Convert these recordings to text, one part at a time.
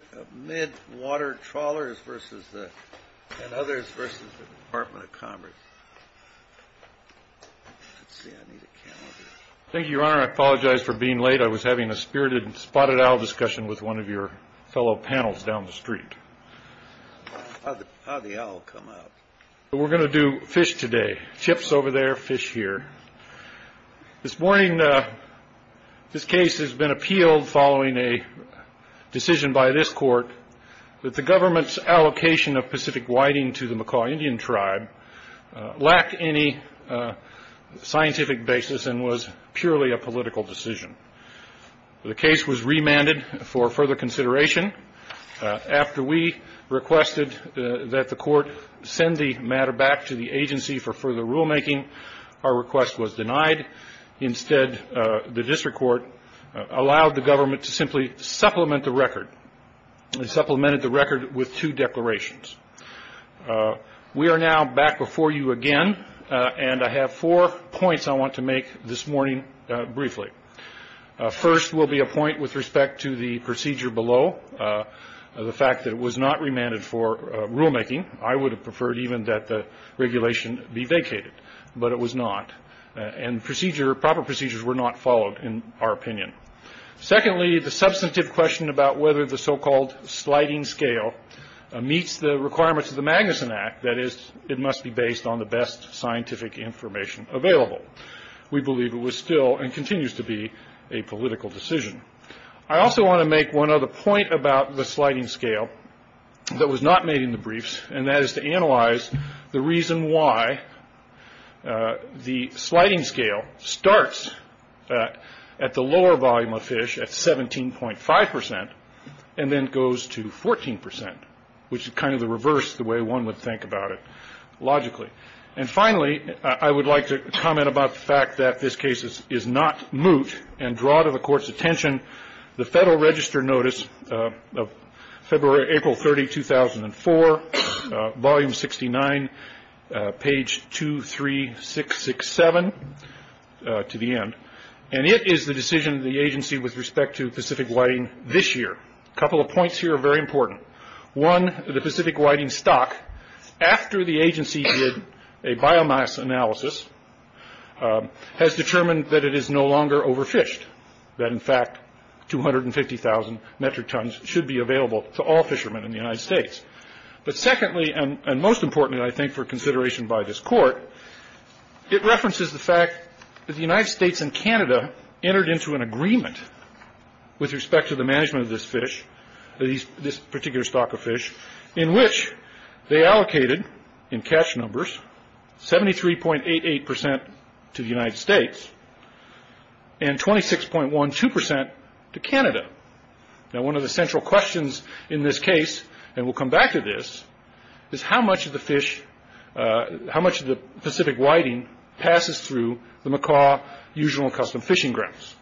Thank you, Your Honor. I apologize for being late. I was having a spirited spotted owl discussion with one of your fellow panels down the street. How did the owl come out? We're going to do fish today. Chips over there, fish here. This morning, this case has been appealed following a decision by this court that the government's allocation of Pacific Whiting to the McCaw Indian Tribe lacked any scientific basis and was purely a political decision. The case was remanded for further consideration. After we requested that the court send the matter back to the agency for further rulemaking, our request was denied. Instead, the district court allowed the government to simply supplement the record and supplemented the record with two declarations. We are now back before you again, and I have four points I want to make this morning briefly. First will be a point with respect to the procedure below, the fact that it was not remanded for rulemaking. I would have preferred even that the regulation be vacated, but it was not, and proper procedures were not followed in our opinion. Secondly, the substantive question about whether the so-called sliding scale meets the requirements of the Magnuson Act, that is, it must be based on the best scientific information available. We believe it was still and continues to be a political decision. I also want to make one other point about the sliding scale that was not made in the briefs, and that is to analyze the reason why the sliding scale starts at the lower volume of fish at 17.5% and then goes to 14%, which is kind of the reverse, the way one would think about it logically. And finally, I would like to comment about the fact that this case is not moot and draw to the Court's attention the Federal Register Notice of April 30, 2004, Volume 69, page 23667 to the end, and it is the decision of the agency with respect to Pacific Whiting this year. A couple of points here are very important. One, the Pacific Whiting stock, after the agency did a biomass analysis, has determined that it is no longer overfished, that in fact 250,000 metric tons should be available to all fishermen in the United States. But secondly, and most importantly, I think, for consideration by this Court, it references the fact that the United States and Canada entered into an agreement with respect to the management of this fish, this particular stock of fish, in which they allocated, in catch numbers, 73.88% to the United States and 26.12% to Canada. Now, one of the central questions in this case, and we'll come back to this, is how much of the Pacific Whiting passes through the Macaw Usual and Custom Fishing Grounds?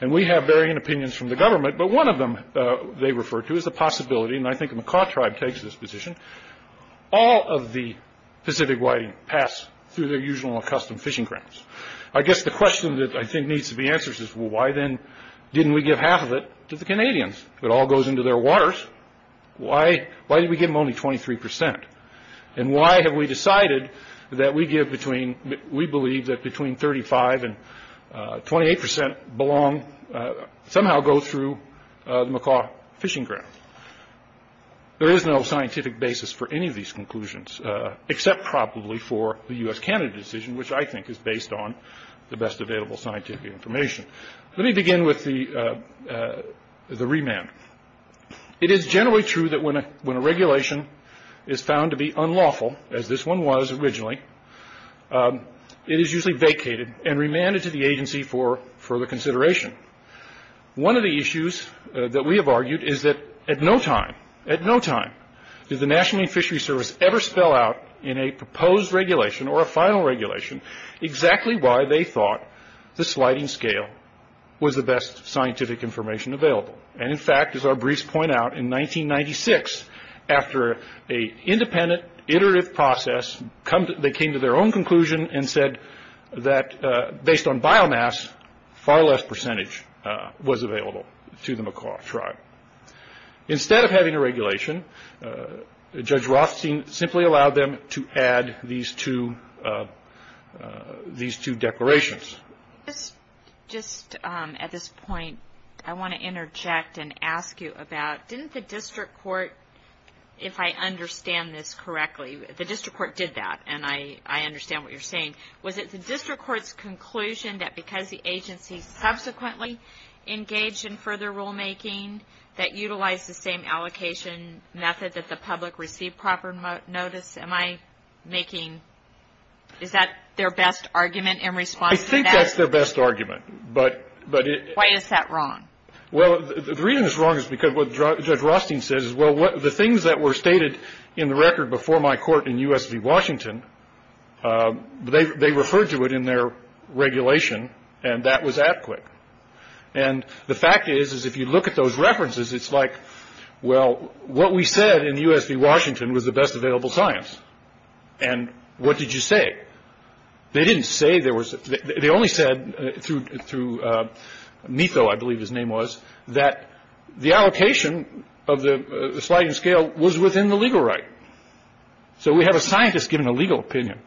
And we have varying opinions from the government, but one of them they refer to is the possibility, and I think the Macaw Tribe takes this position, all of the Pacific Whiting pass through their Usual and Custom Fishing Grounds. I guess the question that I think needs to be answered is, well, why then didn't we give half of it to the Canadians? If it all goes into their waters, why did we give them only 23%? And why have we decided that we believe that between 35% and 28% somehow go through the Macaw Fishing Grounds? There is no scientific basis for any of these conclusions, except probably for the U.S.-Canada decision, which I think is based on the best available scientific information. Let me begin with the remand. It is generally true that when a regulation is found to be unlawful, as this one was originally, it is usually vacated and remanded to the agency for further consideration. One of the issues that we have argued is that at no time, at no time, did the National Marine Fisheries Service ever spell out in a proposed regulation or a final regulation exactly why they thought the sliding scale was the best scientific information available. In fact, as our briefs point out, in 1996, after an independent, iterative process, they came to their own conclusion and said that based on biomass, far less percentage was available to the Macaw Tribe. Instead of having a regulation, Judge Rothstein simply allowed them to add these two declarations. Just at this point, I want to interject and ask you about, didn't the district court, if I understand this correctly, the district court did that, and I understand what you're saying. Was it the district court's conclusion that because the agency subsequently engaged in further rulemaking that utilized the same allocation method that the public received proper notice? Am I making, is that their best argument in response to that? I think that's their best argument. Why is that wrong? Well, the reason it's wrong is because what Judge Rothstein says is, well, the things that were stated in the record before my court in U.S. v. Washington, they referred to it in their regulation, and that was ad quic. And the fact is, is if you look at those references, it's like, well, what we said in U.S. v. Washington was the best available science. And what did you say? They didn't say there was, they only said, through Meatho, I believe his name was, that the allocation of the sliding scale was within the legal right. So we have a scientist giving a legal opinion.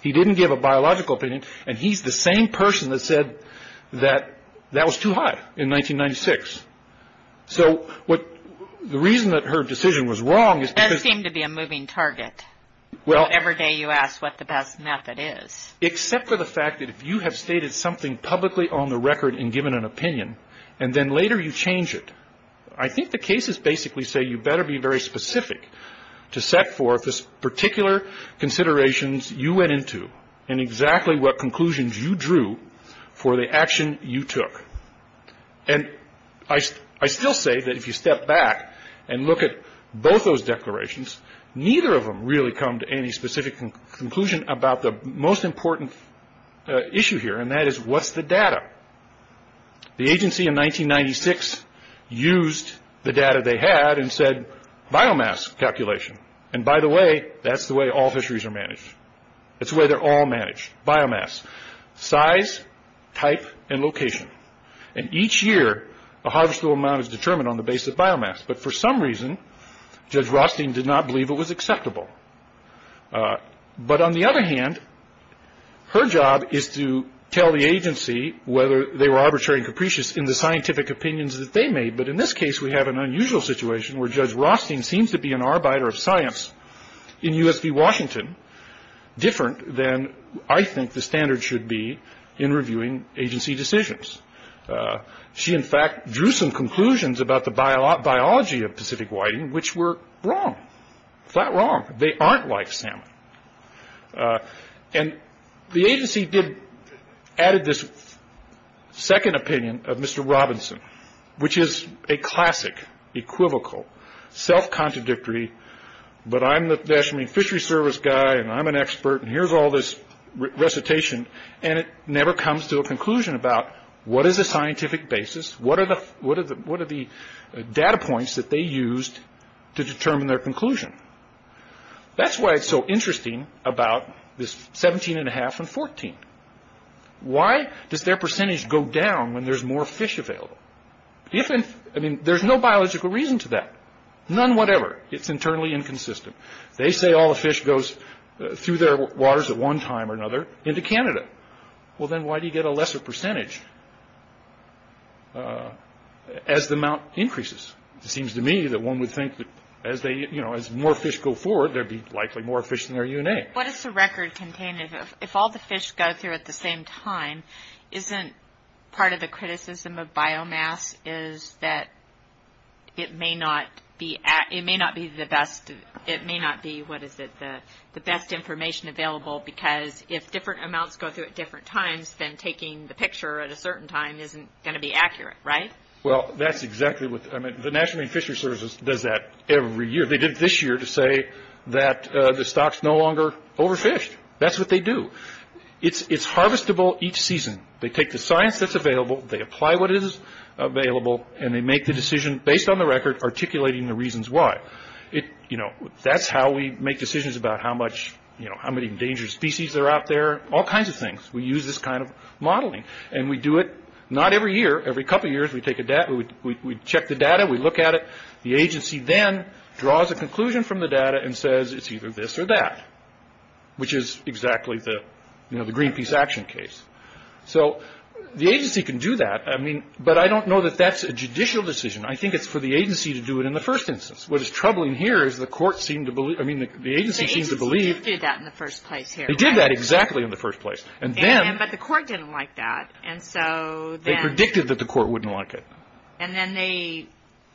He didn't give a biological opinion. And he's the same person that said that that was too high in 1996. So what, the reason that her decision was wrong is because. It does seem to be a moving target. Well. Every day you ask what the best method is. Except for the fact that if you have stated something publicly on the record and given an opinion, and then later you change it. I think the cases basically say you better be very specific to set forth this particular considerations you went into, and exactly what conclusions you drew for the action you took. And I still say that if you step back and look at both those declarations, neither of them really come to any specific conclusion about the most important issue here, and that is, what's the data? The agency in 1996 used the data they had and said, biomass calculation. And by the way, that's the way all fisheries are managed. It's the way they're all managed. Biomass. Size, type, and location. And each year, the harvestable amount is determined on the basis of biomass. But for some reason, Judge Rothstein did not believe it was acceptable. But on the other hand, her job is to tell the agency whether they were arbitrary and capricious in the scientific opinions that they made. But in this case, we have an unusual situation where Judge Rothstein seems to be an arbiter of science in U.S.V. Washington, different than I think the standard should be in reviewing agency decisions. She, in fact, drew some conclusions about the biology of Pacific whiting, which were wrong. Flat wrong. They aren't like salmon. And the agency added this second opinion of Mr. Robinson, which is a classic, equivocal, self-contradictory, but I'm the National Marine Fisheries Service guy and I'm an expert and here's all this recitation, and it never comes to a conclusion about what is a scientific basis, what are the data points that they used to determine their conclusion. That's why it's so interesting about this 17.5 and 14. Why does their percentage go down when there's more fish available? There's no biological reason to that. None whatever. It's internally inconsistent. They say all the fish goes through their waters at one time or another into Canada. Well, then why do you get a lesser percentage as the amount increases? It seems to me that one would think that as more fish go forward, there'd be likely more fish than there are UNA. What is the record contained if all the fish go through at the same time? Isn't part of the criticism of biomass is that it may not be the best information available because if different amounts go through at different times, then taking the picture at a certain time isn't going to be accurate, right? Well, that's exactly what the National Marine Fisheries Service does that every year. They did it this year to say that the stock's no longer overfished. That's what they do. It's harvestable each season. They take the science that's available, they apply what is available, and they make the decision based on the record articulating the reasons why. That's how we make decisions about how many endangered species are out there, all kinds of things. We use this kind of modeling, and we do it not every year. Every couple years, we check the data, we look at it. The agency then draws a conclusion from the data and says it's either this or that, which is exactly the Greenpeace action case. So the agency can do that, but I don't know that that's a judicial decision. I think it's for the agency to do it in the first instance. What is troubling here is the agency seems to believe— The agency did do that in the first place here. They did that exactly in the first place. But the court didn't like that. They predicted that the court wouldn't like it. And then they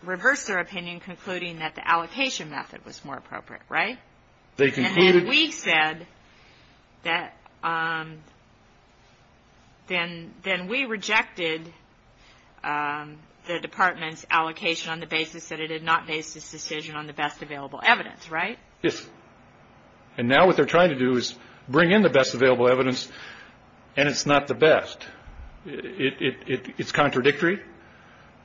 reversed their opinion, concluding that the allocation method was more appropriate, right? They concluded— And then we said that—then we rejected the department's allocation on the basis that it had not based its decision on the best available evidence, right? Yes. And now what they're trying to do is bring in the best available evidence, and it's not the best. It's contradictory.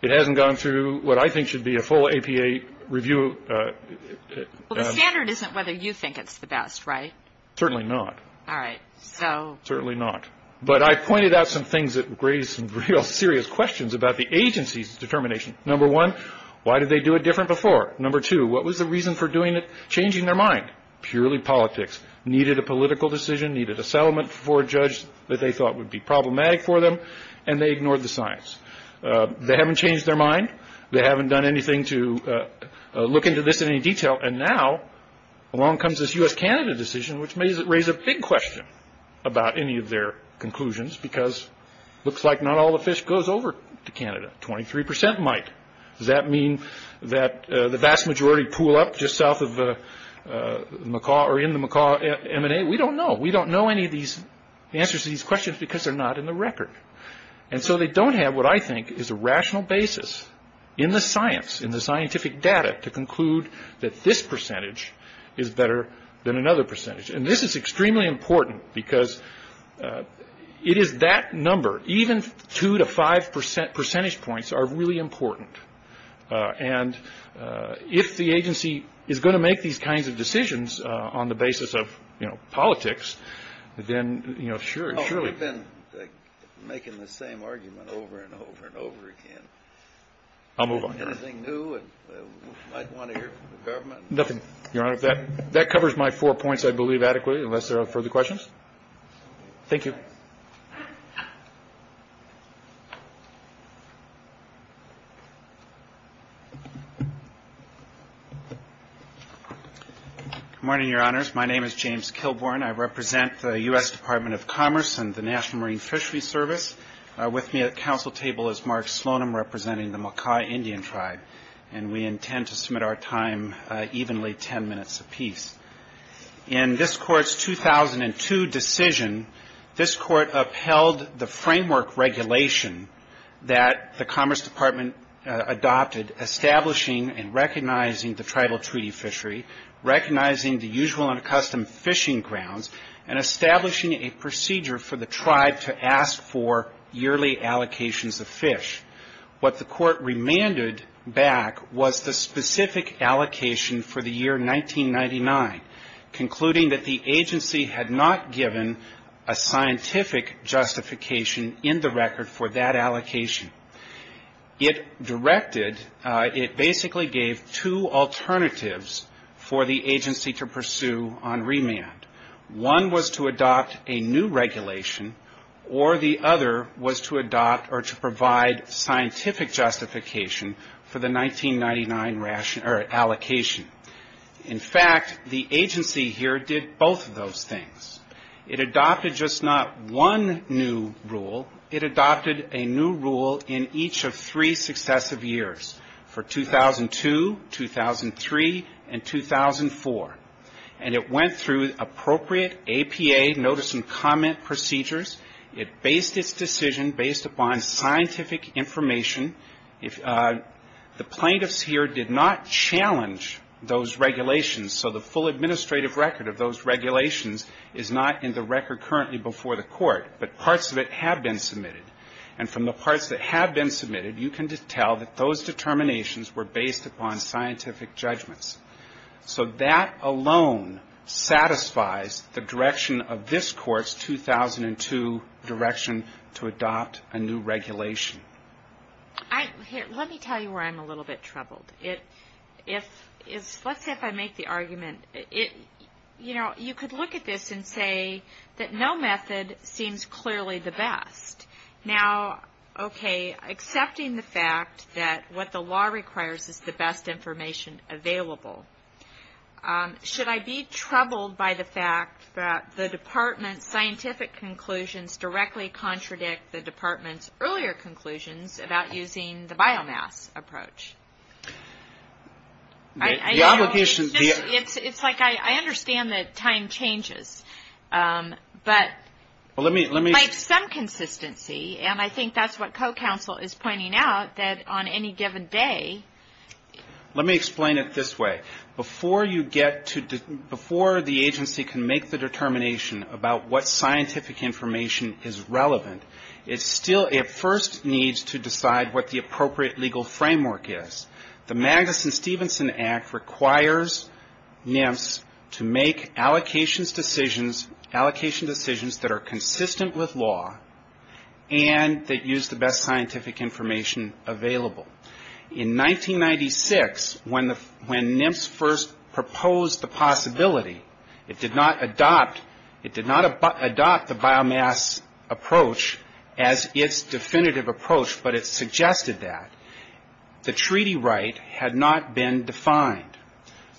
It hasn't gone through what I think should be a full APA review. Well, the standard isn't whether you think it's the best, right? Certainly not. All right. Certainly not. But I pointed out some things that raised some real serious questions about the agency's determination. Number one, why did they do it different before? Number two, what was the reason for changing their mind? Purely politics. Needed a political decision, needed a settlement for a judge that they thought would be problematic for them, and they ignored the science. They haven't changed their mind. They haven't done anything to look into this in any detail. And now along comes this U.S.-Canada decision, which may raise a big question about any of their conclusions because it looks like not all the fish goes over to Canada. Twenty-three percent might. Does that mean that the vast majority pool up just south of Macaw or in the Macaw M&A? We don't know. We don't know any of these answers to these questions because they're not in the record. And so they don't have what I think is a rational basis in the science, in the scientific data, to conclude that this percentage is better than another percentage. And this is extremely important because it is that number. Even two to five percentage points are really important. And if the agency is going to make these kinds of decisions on the basis of, you know, politics, then, you know, surely. Oh, we've been making the same argument over and over and over again. I'll move on. Anything new you might want to hear from the government? Nothing, Your Honor. That covers my four points, I believe, adequately, unless there are further questions. Thank you. Good morning, Your Honors. My name is James Kilbourn. I represent the U.S. Department of Commerce and the National Marine Fisheries Service. With me at the council table is Mark Slonim representing the Makai Indian Tribe, and we intend to submit our time evenly ten minutes apiece. In this Court's 2002 decision, this Court upheld the framework regulation that the Commerce Department adopted, establishing and recognizing the tribal treaty fishery, recognizing the usual and custom fishing grounds, and establishing a procedure for the tribe to ask for yearly allocations of fish. What the Court remanded back was the specific allocation for the year 1999, concluding that the agency had not given a scientific justification in the record for that allocation. It directed, it basically gave two alternatives for the agency to pursue on remand. One was to adopt a new regulation, or the other was to adopt or to provide scientific justification for the 1999 allocation. In fact, the agency here did both of those things. It adopted just not one new rule. It adopted a new rule in each of three successive years, for 2002, 2003, and 2004, and it went through appropriate APA notice and comment procedures. It based its decision based upon scientific information. The plaintiffs here did not challenge those regulations, so the full administrative record of those regulations is not in the record currently before the Court, but parts of it have been submitted, and from the parts that have been submitted, you can tell that those determinations were based upon scientific judgments. So that alone satisfies the direction of this Court's 2002 direction to adopt a new regulation. Let me tell you where I'm a little bit troubled. Let's say if I make the argument, you know, you could look at this and say that no method seems clearly the best. Now, okay, accepting the fact that what the law requires is the best information available, should I be troubled by the fact that the Department's scientific conclusions directly contradict the Department's earlier conclusions about using the biomass approach? I know. It's like I understand that time changes, but like some consistency, and I think that's what co-counsel is pointing out, that on any given day. Let me explain it this way. Before the agency can make the determination about what scientific information is relevant, it first needs to decide what the appropriate legal framework is. The Magnuson-Stevenson Act requires NIMS to make allocation decisions that are consistent with law and that use the best scientific information available. In 1996, when NIMS first proposed the possibility, it did not adopt the biomass approach as its definitive approach, but it suggested that. The treaty right had not been defined.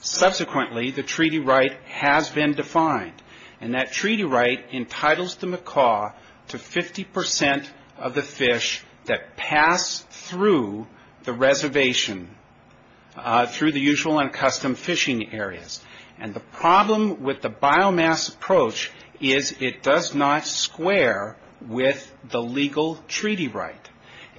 Subsequently, the treaty right has been defined, and that treaty right entitles the macaw to 50% of the fish that pass through the reservation through the usual and custom fishing areas. And the problem with the biomass approach is it does not square with the legal treaty right.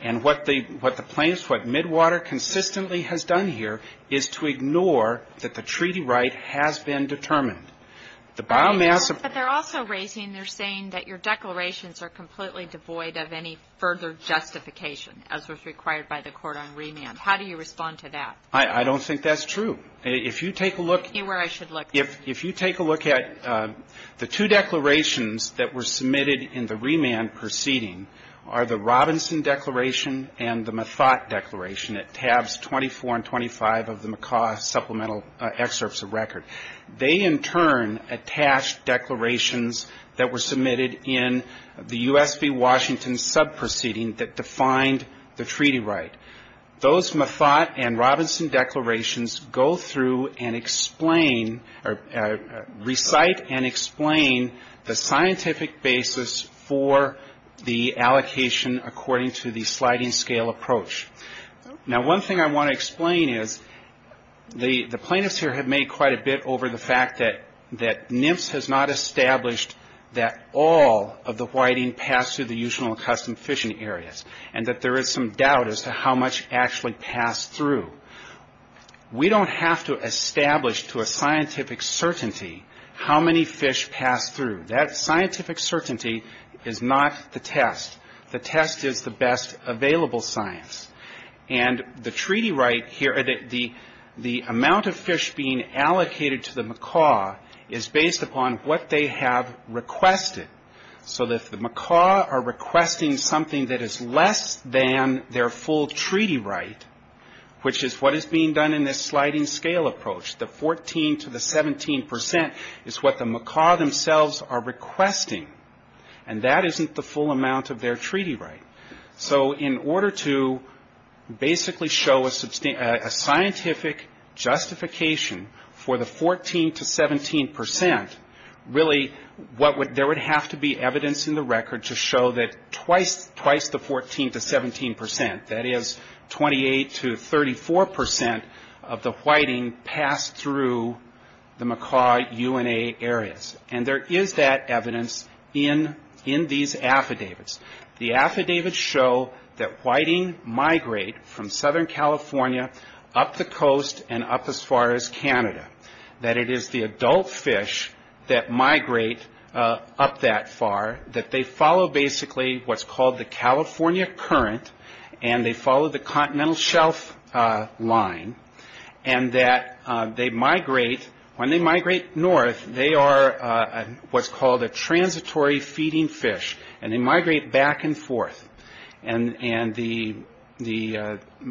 And what Midwater consistently has done here is to ignore that the treaty right has been determined. The biomass approach But they're also raising, they're saying that your declarations are completely devoid of any further justification, as was required by the court on remand. How do you respond to that? I don't think that's true. If you take a look You know where I should look. If you take a look at the two declarations that were submitted in the remand proceeding are the Robinson Declaration and the Mathot Declaration, at tabs 24 and 25 of the Macaw Supplemental Excerpts of Record. They, in turn, attach declarations that were submitted in the U.S. v. Washington subproceeding that defined the treaty right. Those Mathot and Robinson declarations go through and explain, or recite and explain, the scientific basis for the allocation according to the sliding scale approach. Now, one thing I want to explain is the plaintiffs here have made quite a bit over the fact that NMFS has not established that all of the whiting passed through the usual and custom fishing areas and that there is some doubt as to how much actually passed through. We don't have to establish to a scientific certainty how many fish passed through. That scientific certainty is not the test. The test is the best available science. And the treaty right here, the amount of fish being allocated to the macaw, is based upon what they have requested. So if the macaw are requesting something that is less than their full treaty right, which is what is being done in this sliding scale approach, the 14 to the 17 percent is what the macaw themselves are requesting. And that isn't the full amount of their treaty right. So in order to basically show a scientific justification for the 14 to 17 percent, really there would have to be evidence in the record to show that twice the 14 to 17 percent, that is 28 to 34 percent of the whiting passed through the macaw UNA areas. And there is that evidence in these affidavits. The affidavits show that whiting migrate from Southern California up the coast and up as far as Canada, that it is the adult fish that migrate up that far, that they follow basically what's called the California current and they follow the continental shelf line, and that they migrate, when they migrate north, they are what's called a transitory feeding fish and they migrate back and forth. And the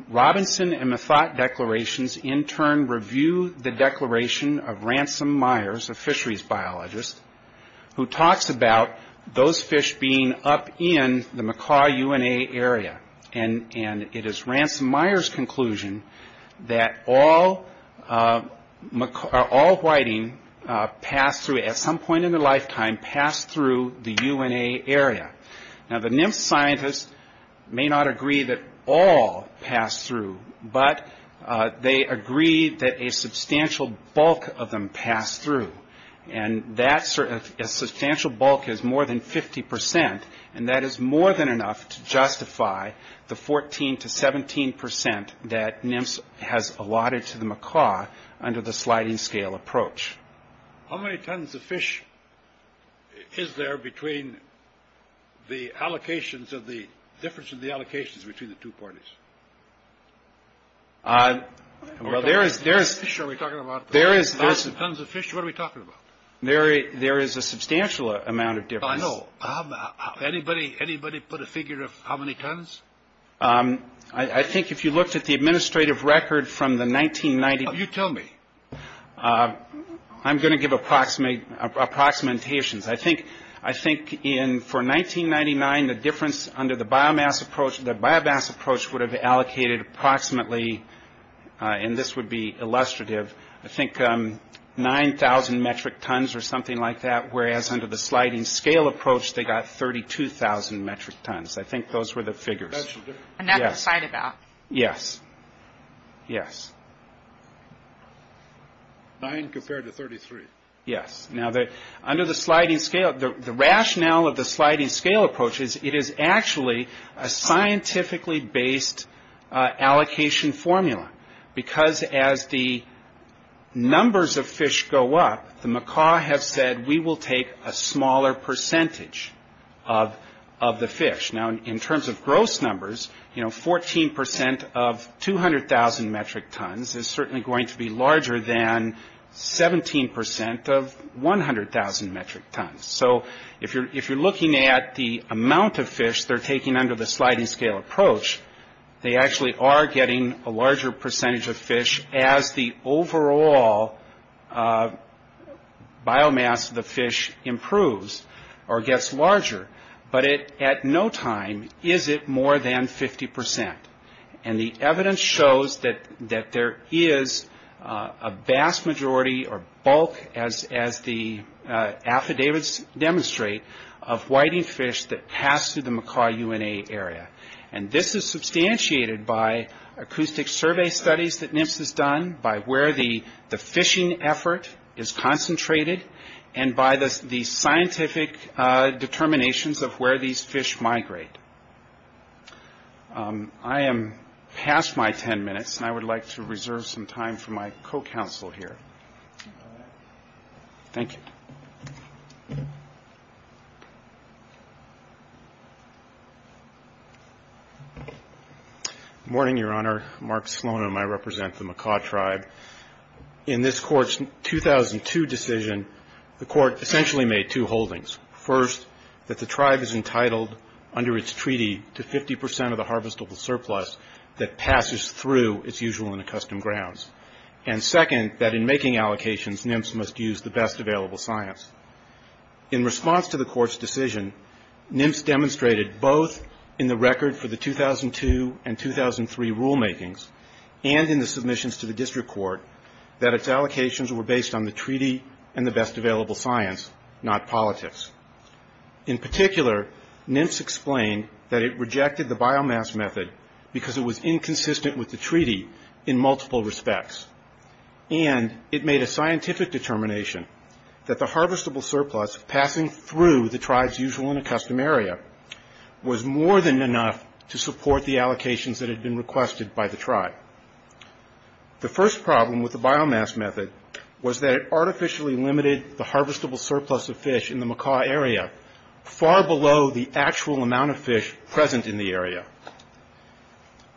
Robinson and Mathot declarations in turn review the declaration of Ransom Myers, a fisheries biologist, who talks about those fish being up in the macaw UNA area. And it is Ransom Myers' conclusion that all whiting passed through, at some point in their lifetime, passed through the UNA area. Now, the NIMS scientists may not agree that all passed through, but they agree that a substantial bulk of them passed through, and that substantial bulk is more than 50 percent, and that is more than enough to justify the 14 to 17 percent that NIMS has allotted to the macaw under the sliding scale approach. How many tons of fish is there between the allocations, the difference in the allocations between the two parties? Well, there is... Tons of fish, what are we talking about? There is a substantial amount of difference. I know. Anybody put a figure of how many tons? I think if you looked at the administrative record from the 1990s... You tell me. I'm going to give approximations. I think for 1999, the difference under the biomass approach, the biomass approach would have allocated approximately, and this would be illustrative, I think 9,000 metric tons or something like that, whereas under the sliding scale approach, they got 32,000 metric tons. I think those were the figures. Another side effect. Yes. Yes. 9 compared to 33. Yes. Now, under the sliding scale, the rationale of the sliding scale approach is it is actually a scientifically based allocation formula because as the numbers of fish go up, the macaw have said, we will take a smaller percentage of the fish. Now, in terms of gross numbers, 14% of 200,000 metric tons is certainly going to be larger than 17% of 100,000 metric tons. So if you're looking at the amount of fish they're taking under the sliding scale approach, they actually are getting a larger percentage of fish as the overall biomass of the fish improves or gets larger. But at no time is it more than 50%. And the evidence shows that there is a vast majority or bulk, as the affidavits demonstrate, of whiting fish that pass through the macaw UNA area. And this is substantiated by acoustic survey studies that NIMS has done, by where the fishing effort is concentrated, and by the scientific determinations of where these fish migrate. I am past my ten minutes, and I would like to reserve some time for my co-counsel here. Thank you. Good morning, Your Honor. Mark Slonim. I represent the macaw tribe. In this Court's 2002 decision, the Court essentially made two holdings. First, that the tribe is entitled under its treaty to 50% of the harvestable surplus that passes through its usual and accustomed grounds. And second, that in making allocations, NIMS must use the best available science. In response to the Court's decision, NIMS demonstrated both in the record for the 2002 and 2003 rulemakings and in the submissions to the district court that its allocations were based on the treaty and the best available science, not politics. In particular, NIMS explained that it rejected the biomass method because it was inconsistent with the treaty in multiple respects. And it made a scientific determination that the harvestable surplus passing through the tribe's usual and accustomed area was more than enough to support the allocations that had been requested by the tribe. The first problem with the biomass method was that it artificially limited the harvestable surplus of fish in the macaw area far below the actual amount of fish present in the area.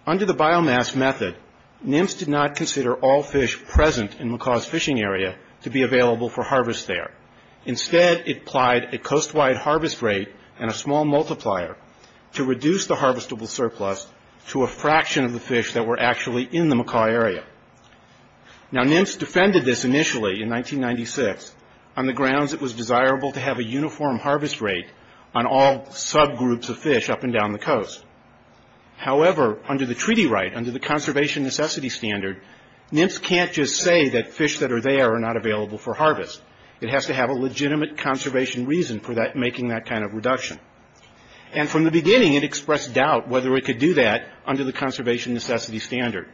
Under the biomass method, NIMS did not consider all fish present in macaw's fishing area to be available for harvest there. Instead, it applied a coast-wide harvest rate and a small multiplier to reduce the harvestable surplus to a fraction of the fish that were actually in the macaw area. Now, NIMS defended this initially in 1996 on the grounds it was desirable to have a uniform harvest rate on all subgroups of fish up and down the coast. However, under the treaty right, under the conservation necessity standard, NIMS can't just say that fish that are there are not available for harvest. It has to have a legitimate conservation reason for making that kind of reduction. And from the beginning, it expressed doubt whether it could do that under the conservation necessity standard,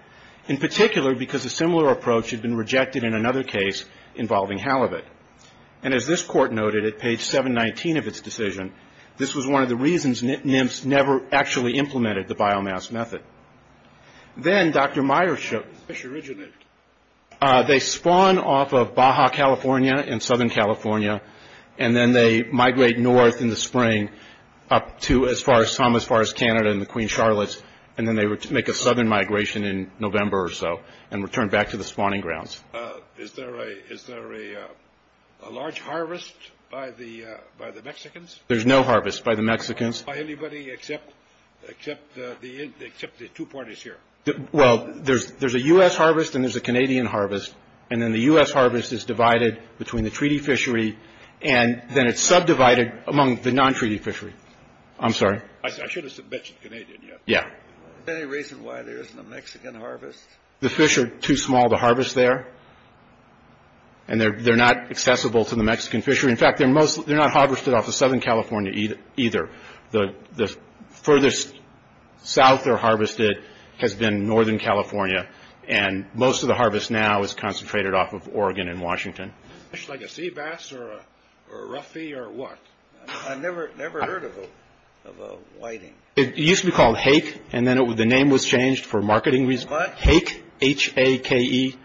in particular because a similar approach had been rejected in another case involving halibut. And as this court noted at page 719 of its decision, this was one of the reasons NIMS never actually implemented the biomass method. Then, Dr. Meyers showed... They spawn off of Baja, California in Southern California, and then they migrate north in the spring up to as far as Thomas Forest, Canada in the Queen Charlottes, and then they make a southern migration in November or so and return back to the spawning grounds. Is there a large harvest by the Mexicans? There's no harvest by the Mexicans. By anybody except the two parties here? Well, there's a U.S. harvest and there's a Canadian harvest, and then the U.S. harvest is divided between the treaty fishery, and then it's subdivided among the non-treaty fishery. I'm sorry? I should have mentioned Canadian, yeah. Is there any reason why there isn't a Mexican harvest? The fish are too small to harvest there, and they're not accessible to the Mexican fishery. In fact, they're not harvested off of Southern California either. The furthest south they're harvested has been Northern California, and most of the harvest now is concentrated off of Oregon and Washington. Like a sea bass or a roughy or what? I've never heard of a whiting. It used to be called hake, and then the name was changed for marketing reasons. What? Hake, H-A-K-E,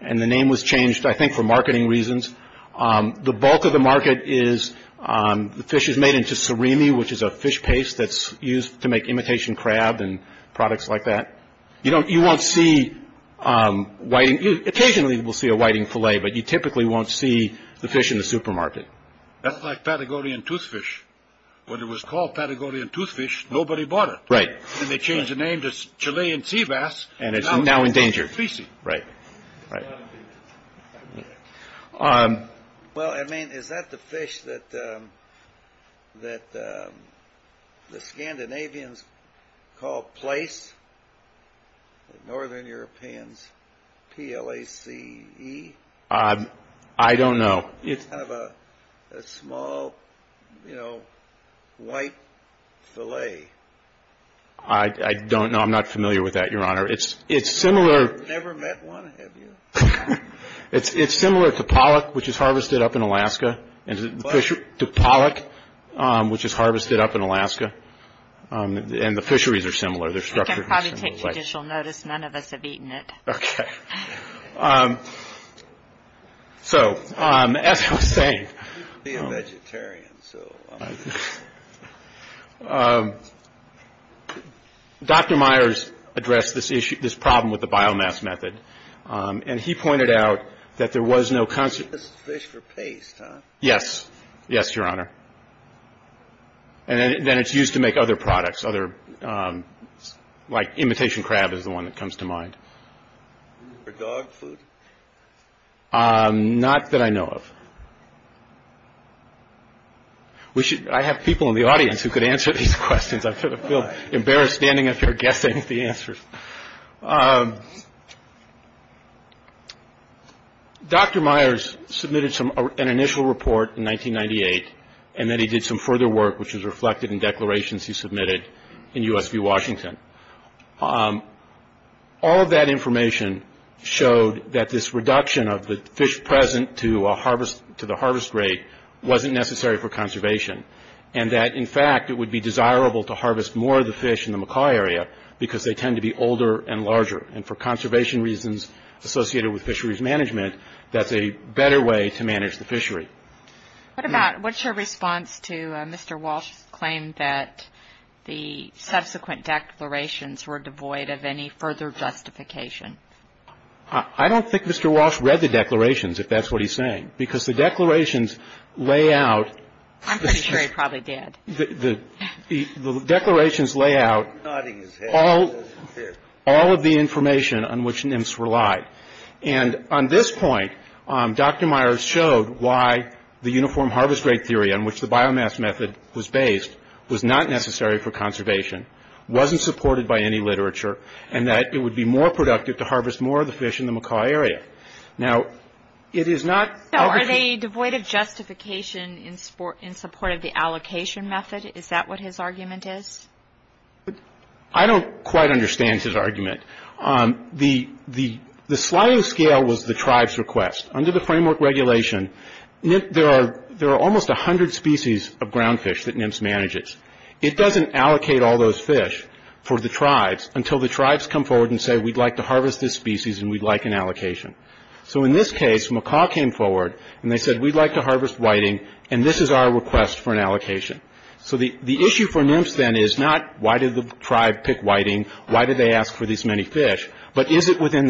and the name was changed, I think, for marketing reasons. The bulk of the market is the fish is made into surimi, which is a fish paste that's used to make imitation crab and products like that. You won't see whiting. Occasionally, we'll see a whiting fillet, but you typically won't see the fish in the supermarket. That's like Patagonian toothfish. When it was called Patagonian toothfish, nobody bought it. Right. Then they changed the name to Chilean sea bass, and it's now endangered. Right. Well, I mean, is that the fish that the Scandinavians call place? The Northern Europeans, P-L-A-C-E? I don't know. It's kind of a small, you know, white fillet. I don't know. I'm not familiar with that, Your Honor. I've never met one, have you? It's similar to pollock, which is harvested up in Alaska. What? To pollock, which is harvested up in Alaska, and the fisheries are similar. They're structured in a similar way. I can probably take judicial notice. None of us have eaten it. Okay. So, as I was saying, Dr. Myers addressed this issue, this problem with the biomass method, and he pointed out that there was no concept. This is fish for paste, huh? Yes. Yes, Your Honor. And then it's used to make other products, other, like imitation crab is the one that comes to mind. Is it for dog food? Not that I know of. I have people in the audience who could answer these questions. I sort of feel embarrassed standing up here guessing at the answers. Dr. Myers submitted an initial report in 1998, and then he did some further work, which is reflected in declarations he submitted in U.S. v. Washington. All of that information showed that this reduction of the fish present to the harvest rate wasn't necessary for conservation, and that, in fact, it would be desirable to harvest more of the fish in the Macaw area because they tend to be older and larger, and for conservation reasons associated with fisheries management, that's a better way to manage the fishery. What about, what's your response to Mr. Walsh's claim that the subsequent declarations were devoid of any further justification? I don't think Mr. Walsh read the declarations, if that's what he's saying, because the declarations lay out. I'm pretty sure he probably did. The declarations lay out all of the information on which nymphs relied. And on this point, Dr. Myers showed why the uniform harvest rate theory on which the biomass method was based was not necessary for conservation, wasn't supported by any literature, and that it would be more productive to harvest more of the fish in the Macaw area. Now, it is not- So are they devoid of justification in support of the allocation method? Is that what his argument is? I don't quite understand his argument. The sliding scale was the tribe's request. Under the framework regulation, there are almost 100 species of ground fish that nymphs manages. It doesn't allocate all those fish for the tribes until the tribes come forward and say, we'd like to harvest this species, and we'd like an allocation. So in this case, Macaw came forward, and they said, we'd like to harvest whiting, and this is our request for an allocation. So the issue for nymphs then is not, why did the tribe pick whiting? Why did they ask for these many fish?